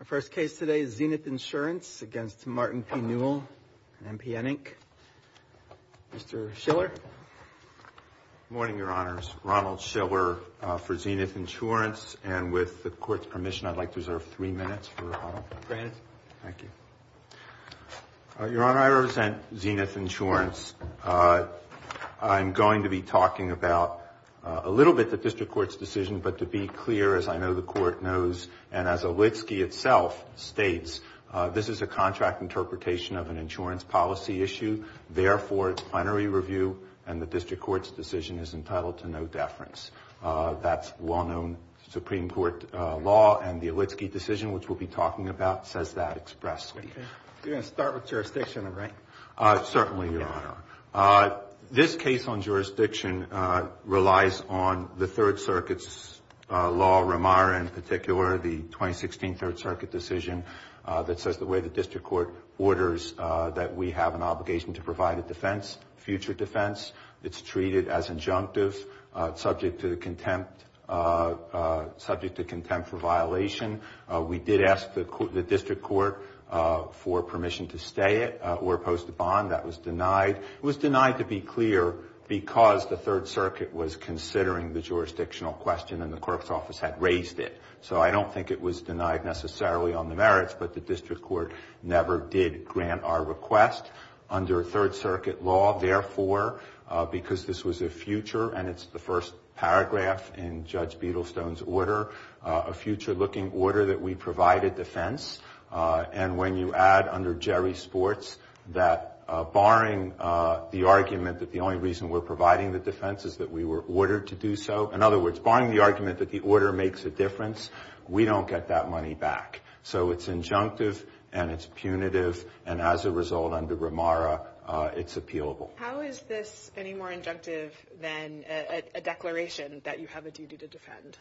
Our first case today is Zenith Insurance against Martin P. Newell, MPN, Inc. Mr. Schiller. Good morning, Your Honors. Ronald Schiller for Zenith Insurance. And with the Court's permission, I'd like to reserve three minutes for Ronald. Granted. Thank you. Your Honor, I represent Zenith Insurance. I'm going to be talking about a little bit the District Court's decision, but to be clear, as I know the Court knows, and as Olitski itself states, this is a contract interpretation of an insurance policy issue. Therefore, it's plenary review, and the District Court's decision is entitled to no deference. That's well-known Supreme Court law, and the Olitski decision, which we'll be talking about, says that expressly. You're going to start with jurisdiction, right? Certainly, Your Honor. This case on jurisdiction relies on the Third Circuit's law, Ramara in particular, the 2016 Third Circuit decision that says the way the District Court orders that we have an obligation to provide a defense, future defense. It's treated as injunctive, subject to contempt for violation. We did ask the District Court for permission to stay it or post a bond. That was denied. It was denied, to be clear, because the Third Circuit was considering the jurisdictional question and the court's office had raised it. So I don't think it was denied necessarily on the merits, but the District Court never did grant our request under Third Circuit law. Therefore, because this was a future, and it's the first paragraph in Judge Beadlestone's order, a future-looking order that we provided defense, and when you add under Jerry Sports that, barring the argument that the only reason we're providing the defense is that we were ordered to do so, in other words, barring the argument that the order makes a difference, we don't get that money back. So it's injunctive and it's punitive, and as a result, under Ramara, it's appealable. How is this any more injunctive than a declaration that you have a duty to defend?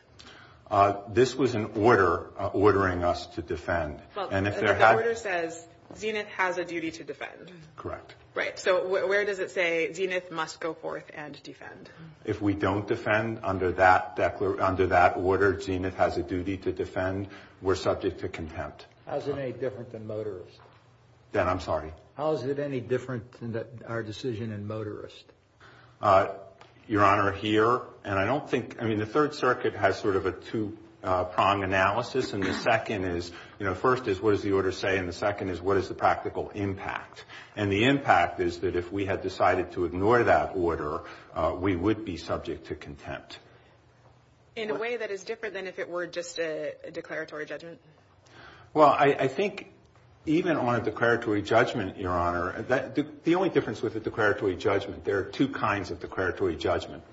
This was an order ordering us to defend. And if there had... Well, the order says Zenith has a duty to defend. Correct. Right. So where does it say Zenith must go forth and defend? If we don't defend under that order, Zenith has a duty to defend, we're subject to contempt. How is it any different than motorist? Dan, I'm sorry. How is it any different than our decision in motorist? Your Honor, here, and I don't think... I mean, the Third Circuit has sort of a two-prong analysis, and the second is, you know, first is what does the order say, and the second is what is the practical impact. And the impact is that if we had decided to ignore that order, we would be subject to contempt. In a way that is different than if it were just a declaratory judgment? Well, I think even on a declaratory judgment, Your Honor, the only difference with a declaratory judgment, there are two kinds of declaratory judgment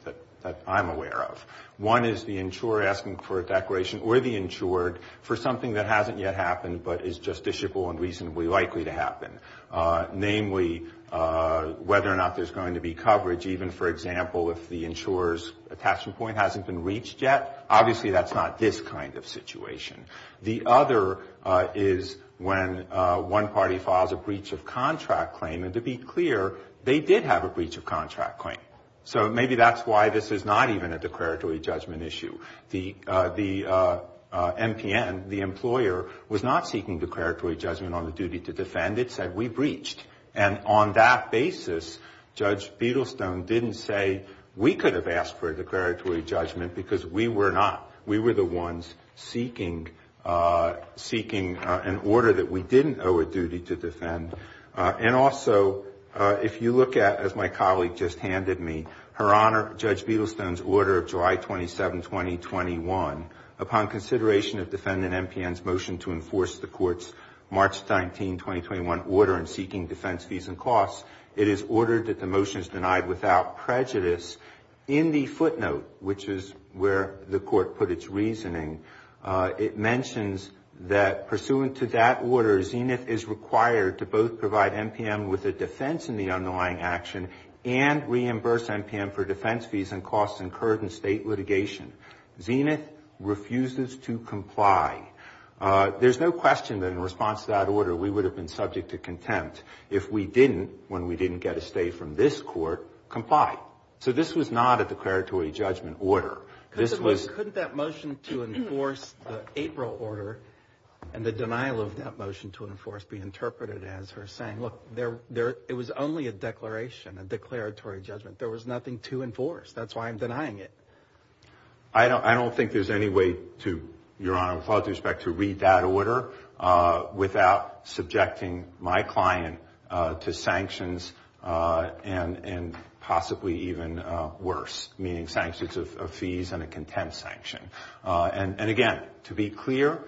that I'm aware of. One is the insurer asking for a declaration or the insured for something that hasn't yet happened but is justiciable and reasonably likely to happen. Namely, whether or not there's going to be coverage, even, for example, if the insurer's attachment point hasn't been reached yet. Obviously, that's not this kind of situation. The other is when one party files a breach of contract claim, and to be clear, they did have a breach of contract claim. So maybe that's why this is not even a declaratory judgment issue. The MPN, the employer, was not seeking declaratory judgment on the duty to defend. It said, we breached. And on that basis, Judge Beadlestone didn't say, we could have asked for a declaratory judgment because we were not. seeking an order that we didn't owe a duty to defend. And also, if you look at, as my colleague just handed me, Her Honor, Judge Beadlestone's order of July 27, 2021, upon consideration of defendant MPN's motion to enforce the court's March 19, 2021, order in seeking defense fees and costs, it is ordered that the motion is denied without prejudice. In the footnote, which is where the court put its reasoning, it mentions that pursuant to that order, Zenith is required to both provide MPN with a defense in the underlying action and reimburse MPN for defense fees and costs incurred in state litigation. Zenith refuses to comply. There's no question that in response to that order, we would have been subject to contempt if we didn't, when we didn't get a stay from this court, comply. So this was not a declaratory judgment order. Couldn't that motion to enforce the April order and the denial of that motion to enforce be interpreted as her saying, look, it was only a declaration, a declaratory judgment. There was nothing to enforce. That's why I'm denying it. I don't think there's any way to, Your Honor, with all due respect, to read that order without subjecting my client to sanctions and possibly even worse, meaning sanctions of fees and a contempt sanction. And again, to be clear,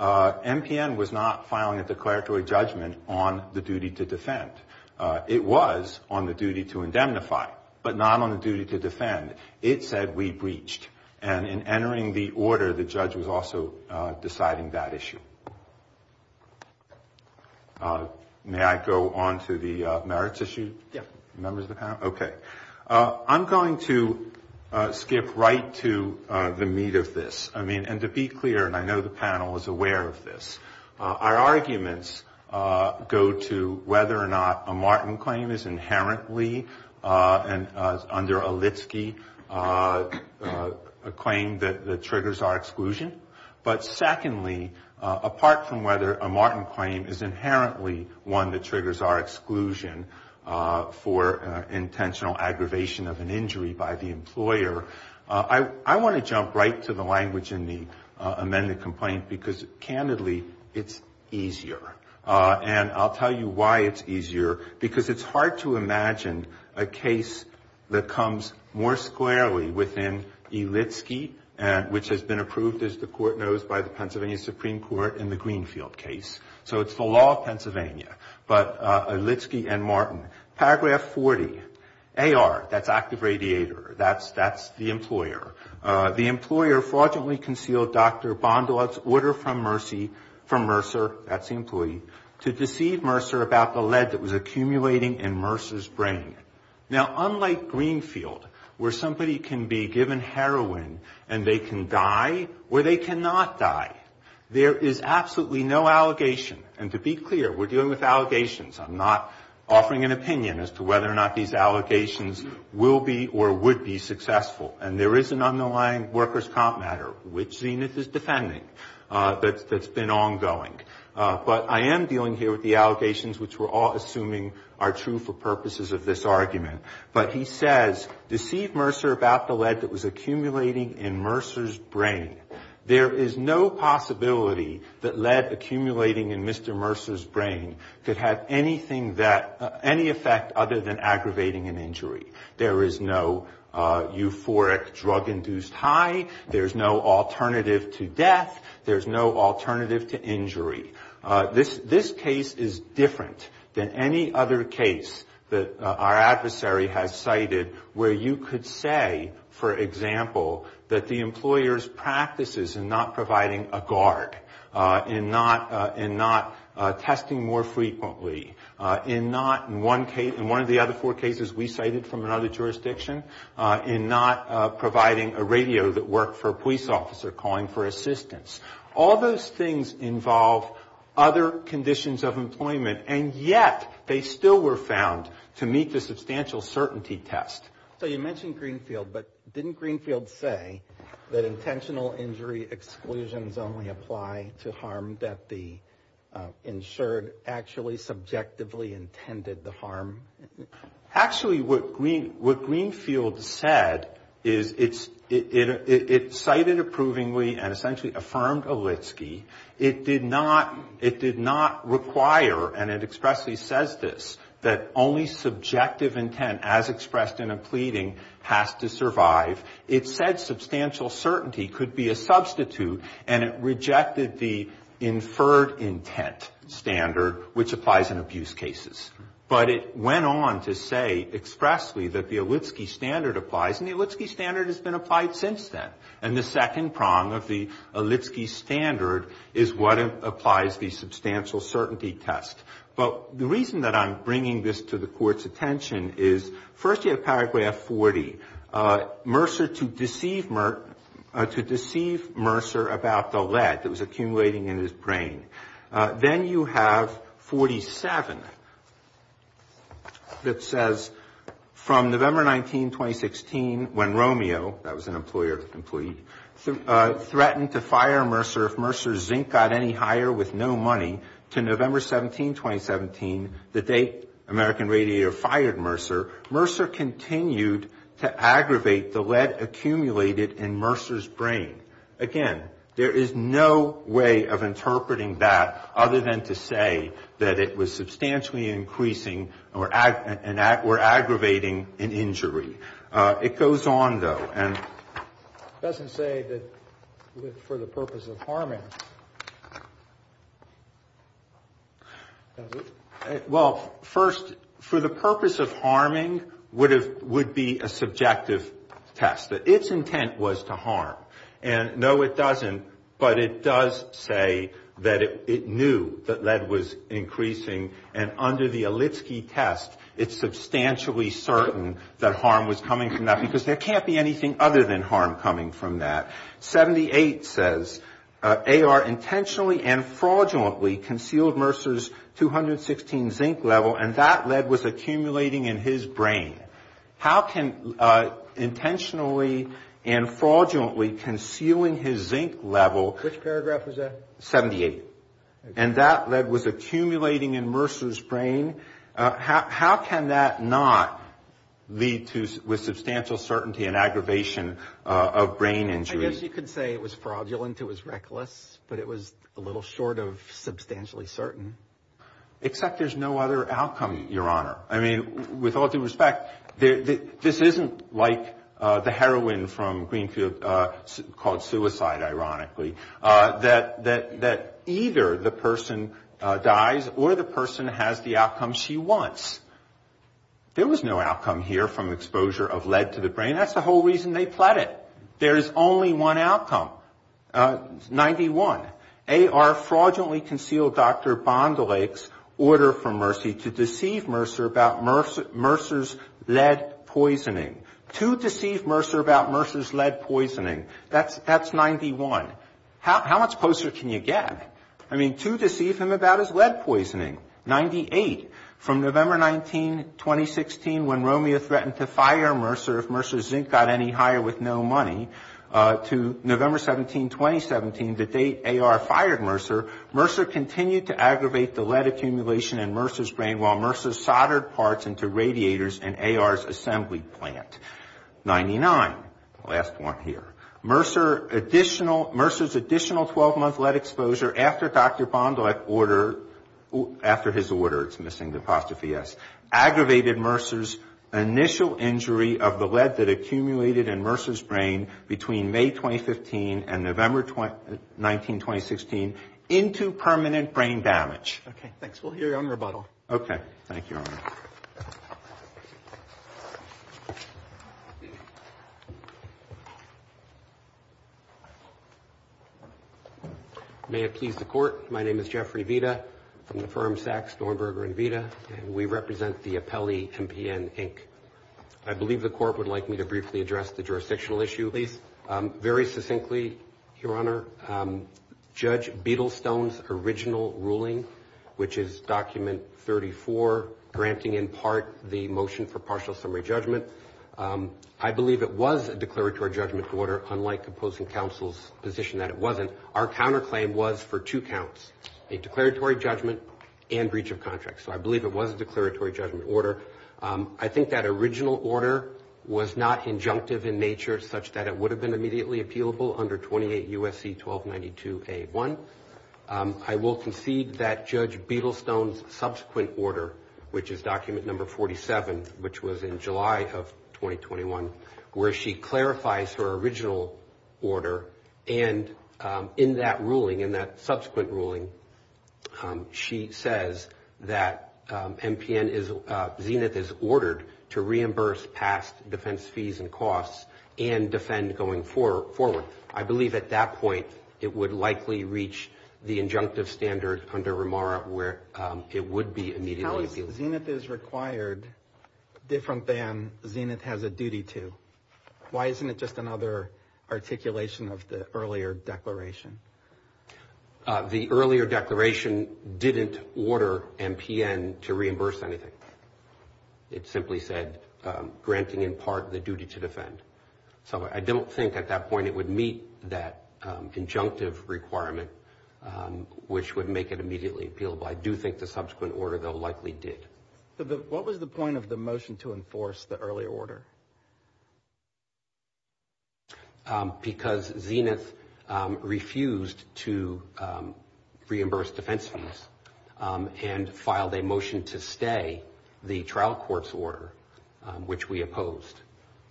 MPN was not filing a declaratory judgment on the duty to defend. It was on the duty to indemnify, but not on the duty to defend. It said we breached, and in entering the order, the judge was also deciding that issue. May I go on to the merits issue? Members of the panel? Okay. I'm going to skip right to the meat of this. I mean, and to be clear, and I know the panel is aware of this, our arguments go to whether or not a Martin claim is inherently, under Olitski, a claim that triggers our exclusion. But secondly, apart from whether a Martin claim is inherently one that triggers our exclusion for intentional aggravation of an injury by the employer, I want to jump right to the language in the amended complaint, because candidly, it's easier. And I'll tell you why it's easier, because it's hard to imagine a case that comes more squarely within Olitski, which has been approved, as the Court knows, by the Pennsylvania Supreme Court in the Greenfield case. So it's the law of Pennsylvania. But Olitski and Martin. Paragraph 40, AR, that's active radiator. That's the employer. The employer fraudulently concealed Dr. Bondolat's order from Mercer, that's the employee, to deceive Mercer about the lead that was accumulating in Mercer's brain. Now, unlike Greenfield, where somebody can be given heroin and they can die, or they cannot die, there is absolutely no allegation. And to be clear, we're dealing with allegations. I'm not offering an opinion as to whether or not these allegations will be or would be successful. And there is an underlying workers' comp matter, which Zenith is defending, that's been ongoing. But I am dealing here with the allegations, which we're all assuming are true for purposes of this argument. But he says, deceive Mercer about the lead that was accumulating in Mercer's brain. There is no possibility that lead accumulating in Mr. Mercer's brain could have any effect other than aggravating an injury. There is no euphoric drug-induced high, there's no alternative to death, there's no alternative to injury. This case is different than any other case that our adversary has cited where you could say, for example, that the employer's practices in not providing a guard, in not testing more frequently, in not, in one case, in one of the other four cases we cited from another jurisdiction, in not providing a radio that worked for a police officer calling for assistance. All those things involve other conditions of employment, and yet they still were found to meet the substantial certainty test. So you mentioned Greenfield, but didn't Greenfield say that intentional injury exclusions only apply to harm that the insured actually subjectively intended the harm? Actually, what Greenfield said is it cited approvingly and essentially affirmed Olitski. It did not require, and it expressly says this, that only subjective intent as expressed in a pleading has to survive. It said substantial certainty could be a substitute, and it rejected the inferred intent standard, which applies in abuse cases. But it went on to say expressly that the Olitski standard applies, and the Olitski standard has been applied since then. And the second prong of the Olitski standard is what applies the substantial certainty test. But the reason that I'm bringing this to the Court's attention is, first you have paragraph 40. Mercer to deceive Mercer about the lead that was accumulating in his brain. Then you have 47 that says, from November 19, 2016, when Romeo, that was an employee of the employee, threatened to fire Mercer if Mercer's zinc got any higher with no money, to November 17, 2017, the date American Radiator fired Mercer, Mercer continued to aggravate the lead accumulated in Mercer's brain. Again, there is no way of interpreting that other than to say that it was substantially increasing or aggravating an injury. It goes on, though, and it doesn't say that for the purpose of harming. Well, first, for the purpose of harming would be a subjective test, that its intent was to harm. And no, it doesn't, but it does say that it knew that lead was increasing, and under the Olitski test, it's substantially certain that harm was coming from that, because there can't be anything other than harm coming from that. 78 says, AR intentionally and fraudulently concealed Mercer's 216 zinc level, and that lead was accumulating in his brain. How can intentionally and fraudulently concealing his zinc level 78, and that lead was accumulating in Mercer's brain, how can that not lead to substantial certainty and aggravation of brain injury? I guess you could say it was fraudulent, it was reckless, but it was a little short of substantially certain. Except there's no other outcome, Your Honor. I mean, with all due respect, this isn't like the heroine from Greenfield called suicide, ironically, that either the person dies or the person has the outcome she wants. There was no outcome here from exposure of lead to the brain. 91 outcome, 91, AR fraudulently concealed Dr. Bondelake's order from Mercer to deceive Mercer about Mercer's lead poisoning. To deceive Mercer about Mercer's lead poisoning, that's 91. How much closer can you get? I mean, to deceive him about his lead poisoning, 98, from November 19, 2016, when Romeo threatened to fire Mercer if Mercer's zinc got any higher with no money, to November 17, 2017, the date AR fired Mercer, Mercer continued to aggravate the lead accumulation in Mercer's brain while Mercer soldered parts into radiators in AR's assembly plant, 99, the last one here. Mercer's additional 12-month lead exposure after Dr. Bondelake ordered, after his order, it's missing the apostrophe S, aggravated Mercer's initial injury of the lead that accumulated in Mercer's brain between May 24 and May 25, 2017. And November 19, 2016, into permanent brain damage. Okay, thanks. We'll hear your own rebuttal. May it please the Court, my name is Jeffrey Vita from the firm Sachs, Stornberger & Vita, and we represent the Appellee NPN, Inc. I believe the Court would like me to briefly address the jurisdictional issue, please. Very succinctly, Your Honor, Judge Beadlestone's original ruling, which is Document 34, granting in part the motion for partial summary judgment. I believe it was a declaratory judgment order, unlike opposing counsel's position that it wasn't. Our counterclaim was for two counts, a declaratory judgment and breach of contract. So I believe it was a declaratory judgment order. I think that original order was not injunctive in nature, such that it would have been immediately appealable under 28 U.S.C. 1292-A1. I will concede that Judge Beadlestone's subsequent order, which is Document 47, which was in July of 2021, where she clarifies her original order. And in that ruling, in that subsequent ruling, she says that Judge Beadlestone's original ruling was not injunctive in nature, such that it would have been immediately appealable under 28 U.S.C. 1292-A1. I believe that MPN is, Zenith is ordered to reimburse past defense fees and costs and defend going forward. I believe at that point it would likely reach the injunctive standard under Ramara where it would be immediately appealable. How is Zenith is required different than Zenith has a duty to? Why isn't it just another articulation of the earlier declaration? The earlier declaration didn't order MPN to reimburse anything. It simply said granting in part the duty to defend. So I don't think at that point it would meet that injunctive requirement, which would make it immediately appealable. I do think the subsequent order, though, likely did. What was the point of the motion to enforce the earlier order? Because Zenith refused to reimburse defense fees and filed a motion to stay the trial court's order, which we opposed.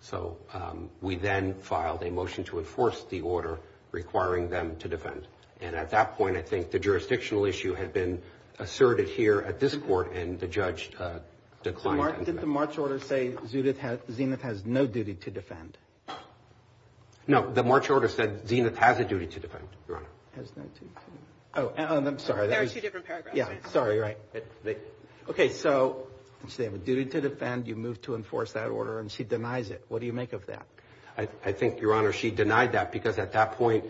So we then filed a motion to enforce the order requiring them to defend. And at that point I think the jurisdictional issue had been asserted here at this court and the judge declined. Didn't the March order say Zenith has no duty to defend? No, the March order said Zenith has a duty to defend, Your Honor. There are two different paragraphs. So they have a duty to defend. You move to enforce that order and she denies it. What do you make of that? I think, Your Honor, she denied that because at that point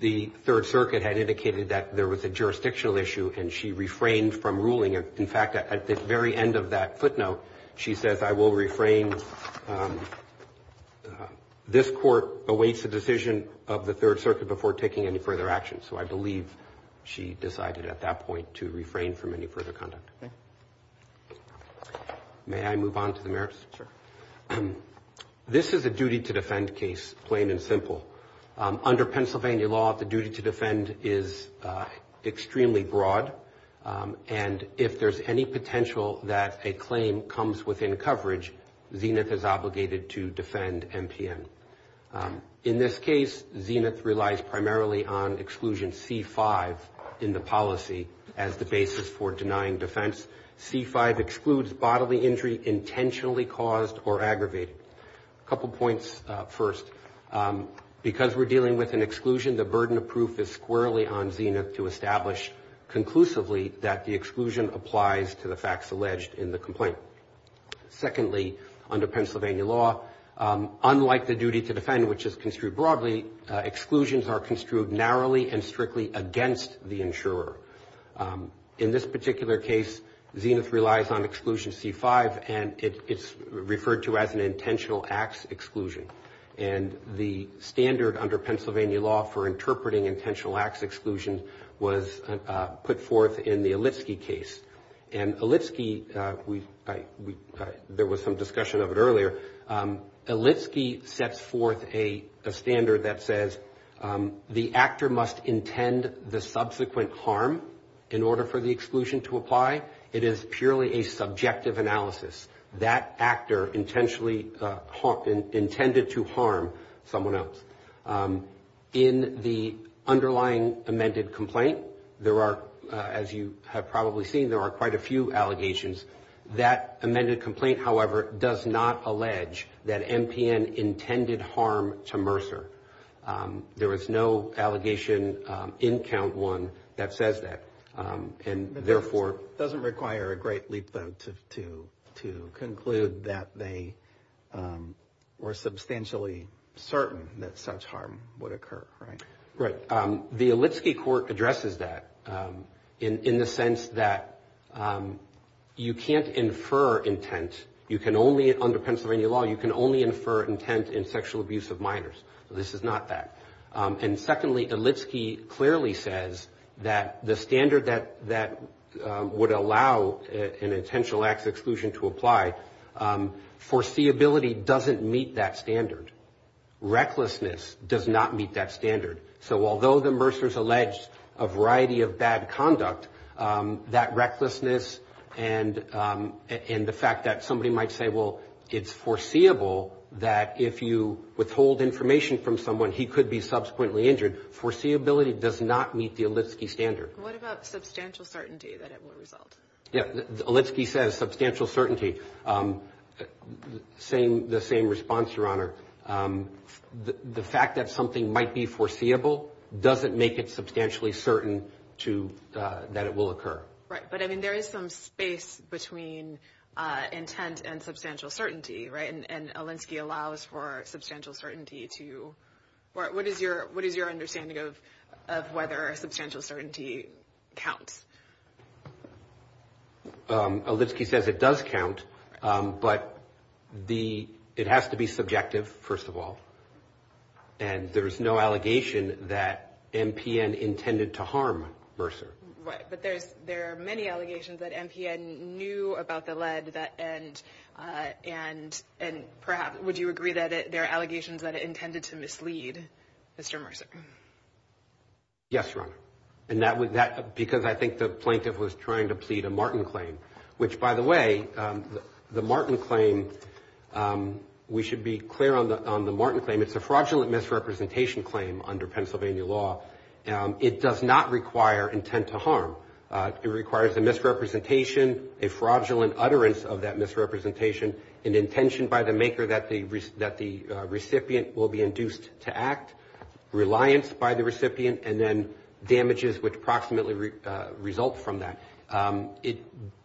the Third Circuit had indicated that there was a jurisdictional issue and she refrained from ruling. In fact, at the very end of that footnote she says, I will refrain. This court awaits the decision of the Third Circuit before taking any further action. So I believe she decided at that point to refrain from any further conduct. May I move on to the merits? Sure. This is a duty to defend case, plain and simple. Under Pennsylvania law, the duty to defend is extremely broad. And if there's any potential that a claim comes within coverage, Zenith is obligated to defend MPN. In this case, Zenith relies primarily on exclusion C-5 in the policy as the basis for denying defense. C-5 excludes bodily injury intentionally caused or aggravated. Because we're dealing with an exclusion, the burden of proof is squarely on Zenith to establish conclusively that the exclusion applies to the facts alleged in the complaint. Secondly, under Pennsylvania law, unlike the duty to defend, which is construed broadly, exclusions are construed narrowly and strictly against the insurer. In this particular case, Zenith relies on exclusion C-5 and it's referred to as an intentional acts exclusion. And the standard under Pennsylvania law for interpreting intentional acts exclusion was put forth in the Olitski case. And Olitski, there was some discussion of it earlier, Olitski sets forth a standard that says, the actor must intend the subsequent harm in order for the exclusion to apply. It is purely a subjective analysis. That actor intentionally intended to harm someone else. In the underlying amended complaint, there are, as you have probably seen, there are quite a few allegations. That amended complaint, however, does not allege that MPN intended harm to Mercer. There is no allegation in count one that says that, and therefore... It doesn't require a great leap though to conclude that they were substantially certain that such harm would occur, right? Right, the Olitski court addresses that in the sense that you can't infer intent, you can only, under Pennsylvania law, you can only infer intent in sexual abuse of minors. This is not that. And secondly, Olitski clearly says that the standard that would allow an intentional acts exclusion to apply, foreseeability doesn't meet that standard. Recklessness does not meet that standard. So although the Mercers allege a variety of bad conduct, that recklessness and the fact that somebody might say, well, it's foreseeable that if you withhold information from someone, he could be subsequently injured, foreseeability does not meet the Olitski standard. What about substantial certainty that it will result? Olitski says substantial certainty, the same response, Your Honor, the fact that something might be foreseeable doesn't make it substantially certain that it will occur. Right, but I mean, there is some space between intent and substantial certainty, right? And Olitski allows for substantial certainty to, what is your understanding of whether substantial certainty counts? Olitski says it does count, but it has to be subjective, first of all. And there's no allegation that MPN intended to harm Mercer. Right, but there are many allegations that MPN knew about the lead that, and, you know, there's no allegation that MPN intended to harm Mercer. And perhaps, would you agree that there are allegations that it intended to mislead Mr. Mercer? Yes, Your Honor, and that, because I think the plaintiff was trying to plead a Martin claim. Which, by the way, the Martin claim, we should be clear on the Martin claim, it's a fraudulent misrepresentation claim under Pennsylvania law. It requires a misrepresentation, a fraudulent utterance of that misrepresentation, an intention by the maker that the recipient will be induced to act, reliance by the recipient, and then damages which approximately result from that.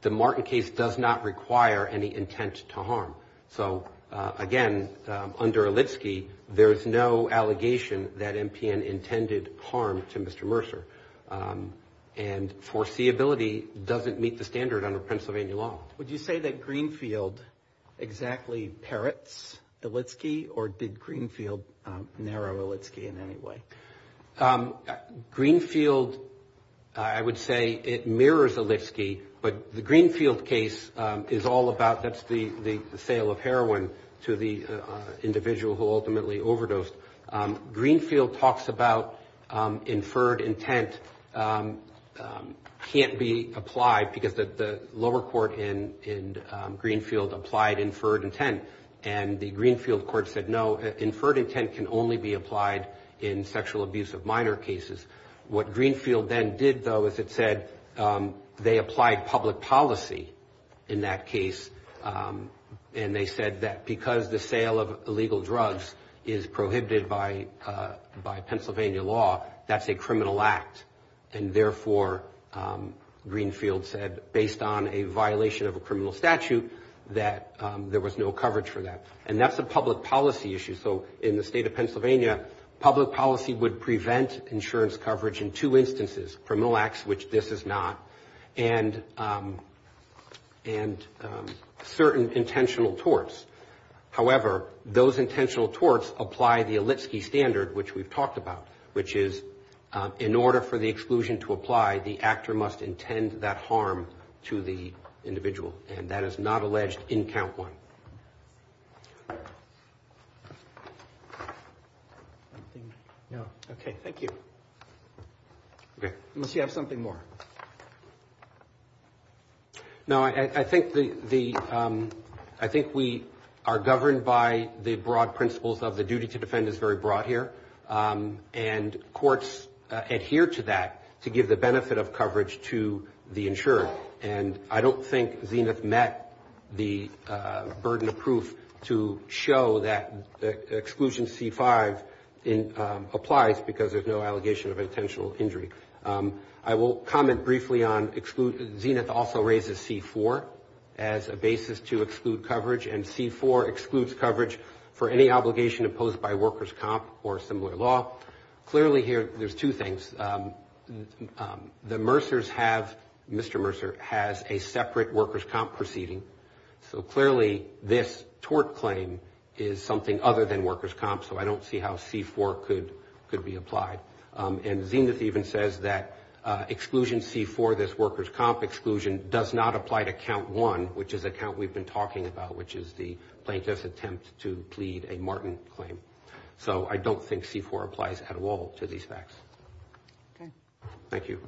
The Martin case does not require any intent to harm. So, again, under Olitski, there's no allegation that MPN intended harm to Mr. Mercer. And foreseeability doesn't meet the standard under Pennsylvania law. Would you say that Greenfield exactly parrots Olitski, or did Greenfield narrow Olitski in any way? Greenfield, I would say it mirrors Olitski, but the Greenfield case is all about, that's the sale of heroin to the individual who ultimately overdosed. Greenfield talks about inferred intent can't be applied, because the lower court in Greenfield applied inferred intent. And the Greenfield court said, no, inferred intent can only be applied in sexual abuse of minor cases. What Greenfield then did, though, is it said they applied public policy in that case, and they said that because the sale of illegal drugs is prohibited by Pennsylvania law, that's a criminal act. And therefore, Greenfield said, based on a violation of a criminal statute, that there was no coverage for that. And that's a public policy issue. So in the state of Pennsylvania, public policy would prevent insurance coverage in two instances, criminal acts, which this is not, and certain intentional torts. However, those intentional torts apply the Olitski standard, which we've talked about, which is, in order for the exclusion to apply, the actor must intend that harm to the individual. And that is not alleged in count one. Okay, thank you. Unless you have something more. No, I think we are governed by the broad principles of the duty to defend is very broad here. And courts adhere to that to give the benefit of coverage to the insured. And I don't think Zenith met the burden of proof to show that exclusion C-5 applies, because there's no allegation of intent. And there's no allegation of intentional injury. I will comment briefly on, Zenith also raises C-4 as a basis to exclude coverage, and C-4 excludes coverage for any obligation imposed by workers' comp or similar law. Clearly here, there's two things. The Mercers have, Mr. Mercer has a separate workers' comp proceeding. So clearly, this tort claim is something other than workers' comp, so I don't see how C-4 could be applied. And Zenith even says that exclusion C-4, this workers' comp exclusion, does not apply to count one, which is the count we've been talking about, which is the plaintiff's attempt to plead a Martin claim. So I don't think C-4 applies at all to these facts. Thank you.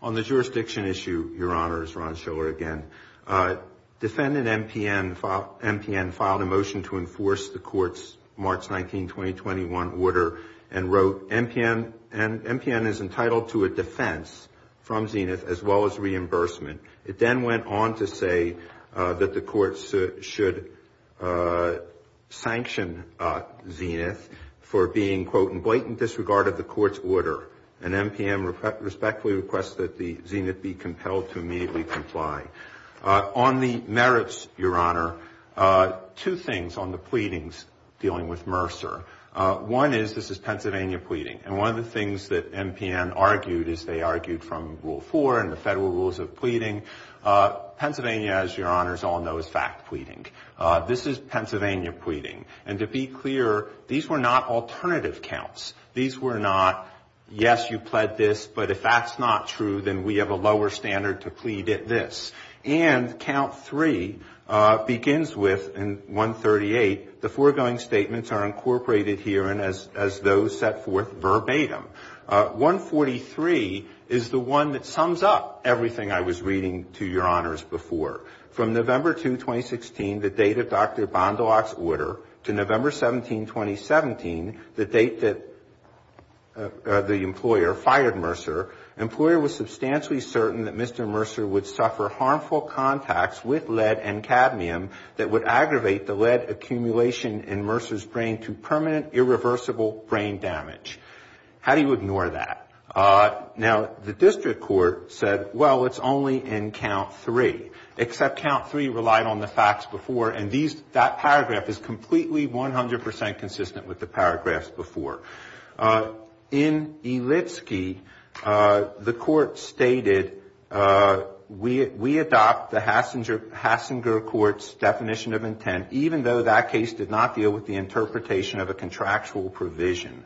On the jurisdiction issue, Your Honor, it's Ron Schiller again. Defendant MPN filed a motion to enforce the Court's March 19, 2021, order and wrote, MPN is entitled to a defense, and MPN is entitled to a defense. It then went on to say that the Court should sanction Zenith for being, quote, in blatant disregard of the Court's order, and MPN respectfully requests that the Zenith be compelled to immediately comply. On the merits, Your Honor, two things on the pleadings dealing with Mercer. One is, this is Pennsylvania pleading, and one of the things that MPN argued is they argued from Rule 4 and the federal rules of pleading. Pennsylvania, as Your Honors all know, is fact pleading. This is Pennsylvania pleading. And to be clear, these were not alternative counts. These were not, yes, you pled this, but if that's not true, then we have a lower standard to plead at this. And Count 3 begins with, in 138, the foregoing statements are incorporated here, and as those set forth verbatim. 143 is the one that sums up everything I was reading to Your Honors before. From November 2, 2016, the date of Dr. Bondolak's order, to November 17, 2017, the date that Dr. Bondolak's order was issued. The employer fired Mercer. The employer was substantially certain that Mr. Mercer would suffer harmful contacts with lead and cadmium that would aggravate the lead accumulation in Mercer's brain to permanent irreversible brain damage. How do you ignore that? Now, the district court said, well, it's only in Count 3, except Count 3 relied on the facts before, and that paragraph is completely 100% consistent with the paragraphs before. In Elitsky, the court stated, we adopt the Hassinger Court's definition of intent, even though that case did not deal with the interpretation of a contractual provision.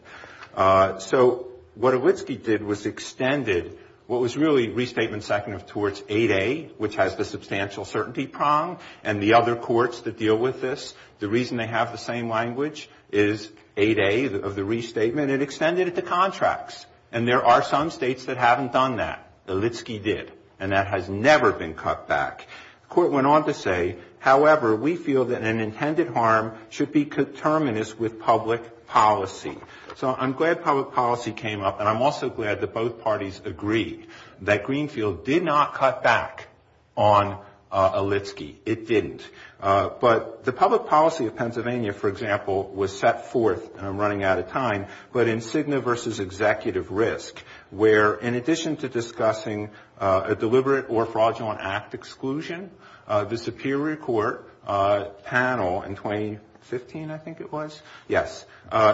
So what Elitsky did was extended what was really restatement second of torts 8A, which has the substantial certainty prong, and the other courts that deal with this. The reason they have the same language is 8A of the restatement, it extended it to contracts, and there are some states that haven't done that. Elitsky did, and that has never been cut back. The court went on to say, however, we feel that an intended harm should be determinist with public policy. So I'm glad public policy came up, and I'm also glad that both parties agreed that Greenfield did not cut back on Elitsky. It didn't. But the public policy of Pennsylvania, for example, was set forth, and I'm running out of time, but in Cigna versus executive risk, where in addition to discussing a deliberate or fraudulent act exclusion, the Superior Court panel in 2015, I think it was, yes,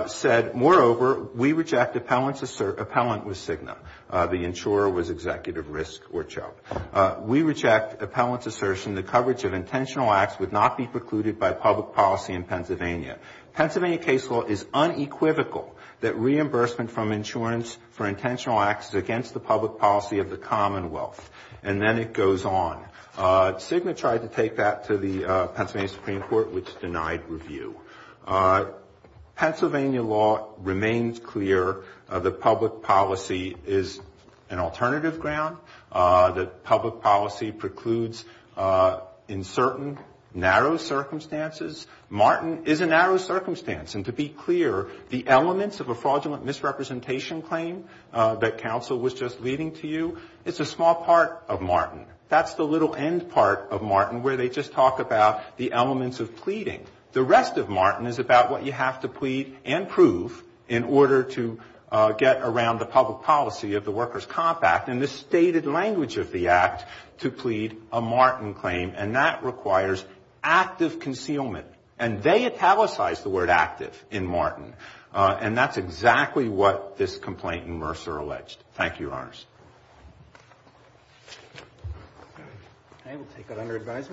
said, moreover, we reject appellant with Cigna. The insurer was executive risk or choked. The insurer was not exempted from the liability of intentional acts would not be precluded by public policy in Pennsylvania. Pennsylvania case law is unequivocal that reimbursement from insurance for intentional acts is against the public policy of the Commonwealth, and then it goes on. Cigna tried to take that to the Pennsylvania Supreme Court, which denied review. Pennsylvania law remains clear that public policy is an alternative ground, that public policy precludes insolvency. In certain narrow circumstances, Martin is a narrow circumstance, and to be clear, the elements of a fraudulent misrepresentation claim that counsel was just leading to you, it's a small part of Martin. That's the little end part of Martin, where they just talk about the elements of pleading. The rest of Martin is about what you have to plead and prove in order to get around the public policy of the Workers' Comp Act, and the stated language of the act to plead a Martin claim, and that relates to the fact that it's a small part of Martin. It requires active concealment, and they italicized the word active in Martin, and that's exactly what this complaint in Mercer alleged.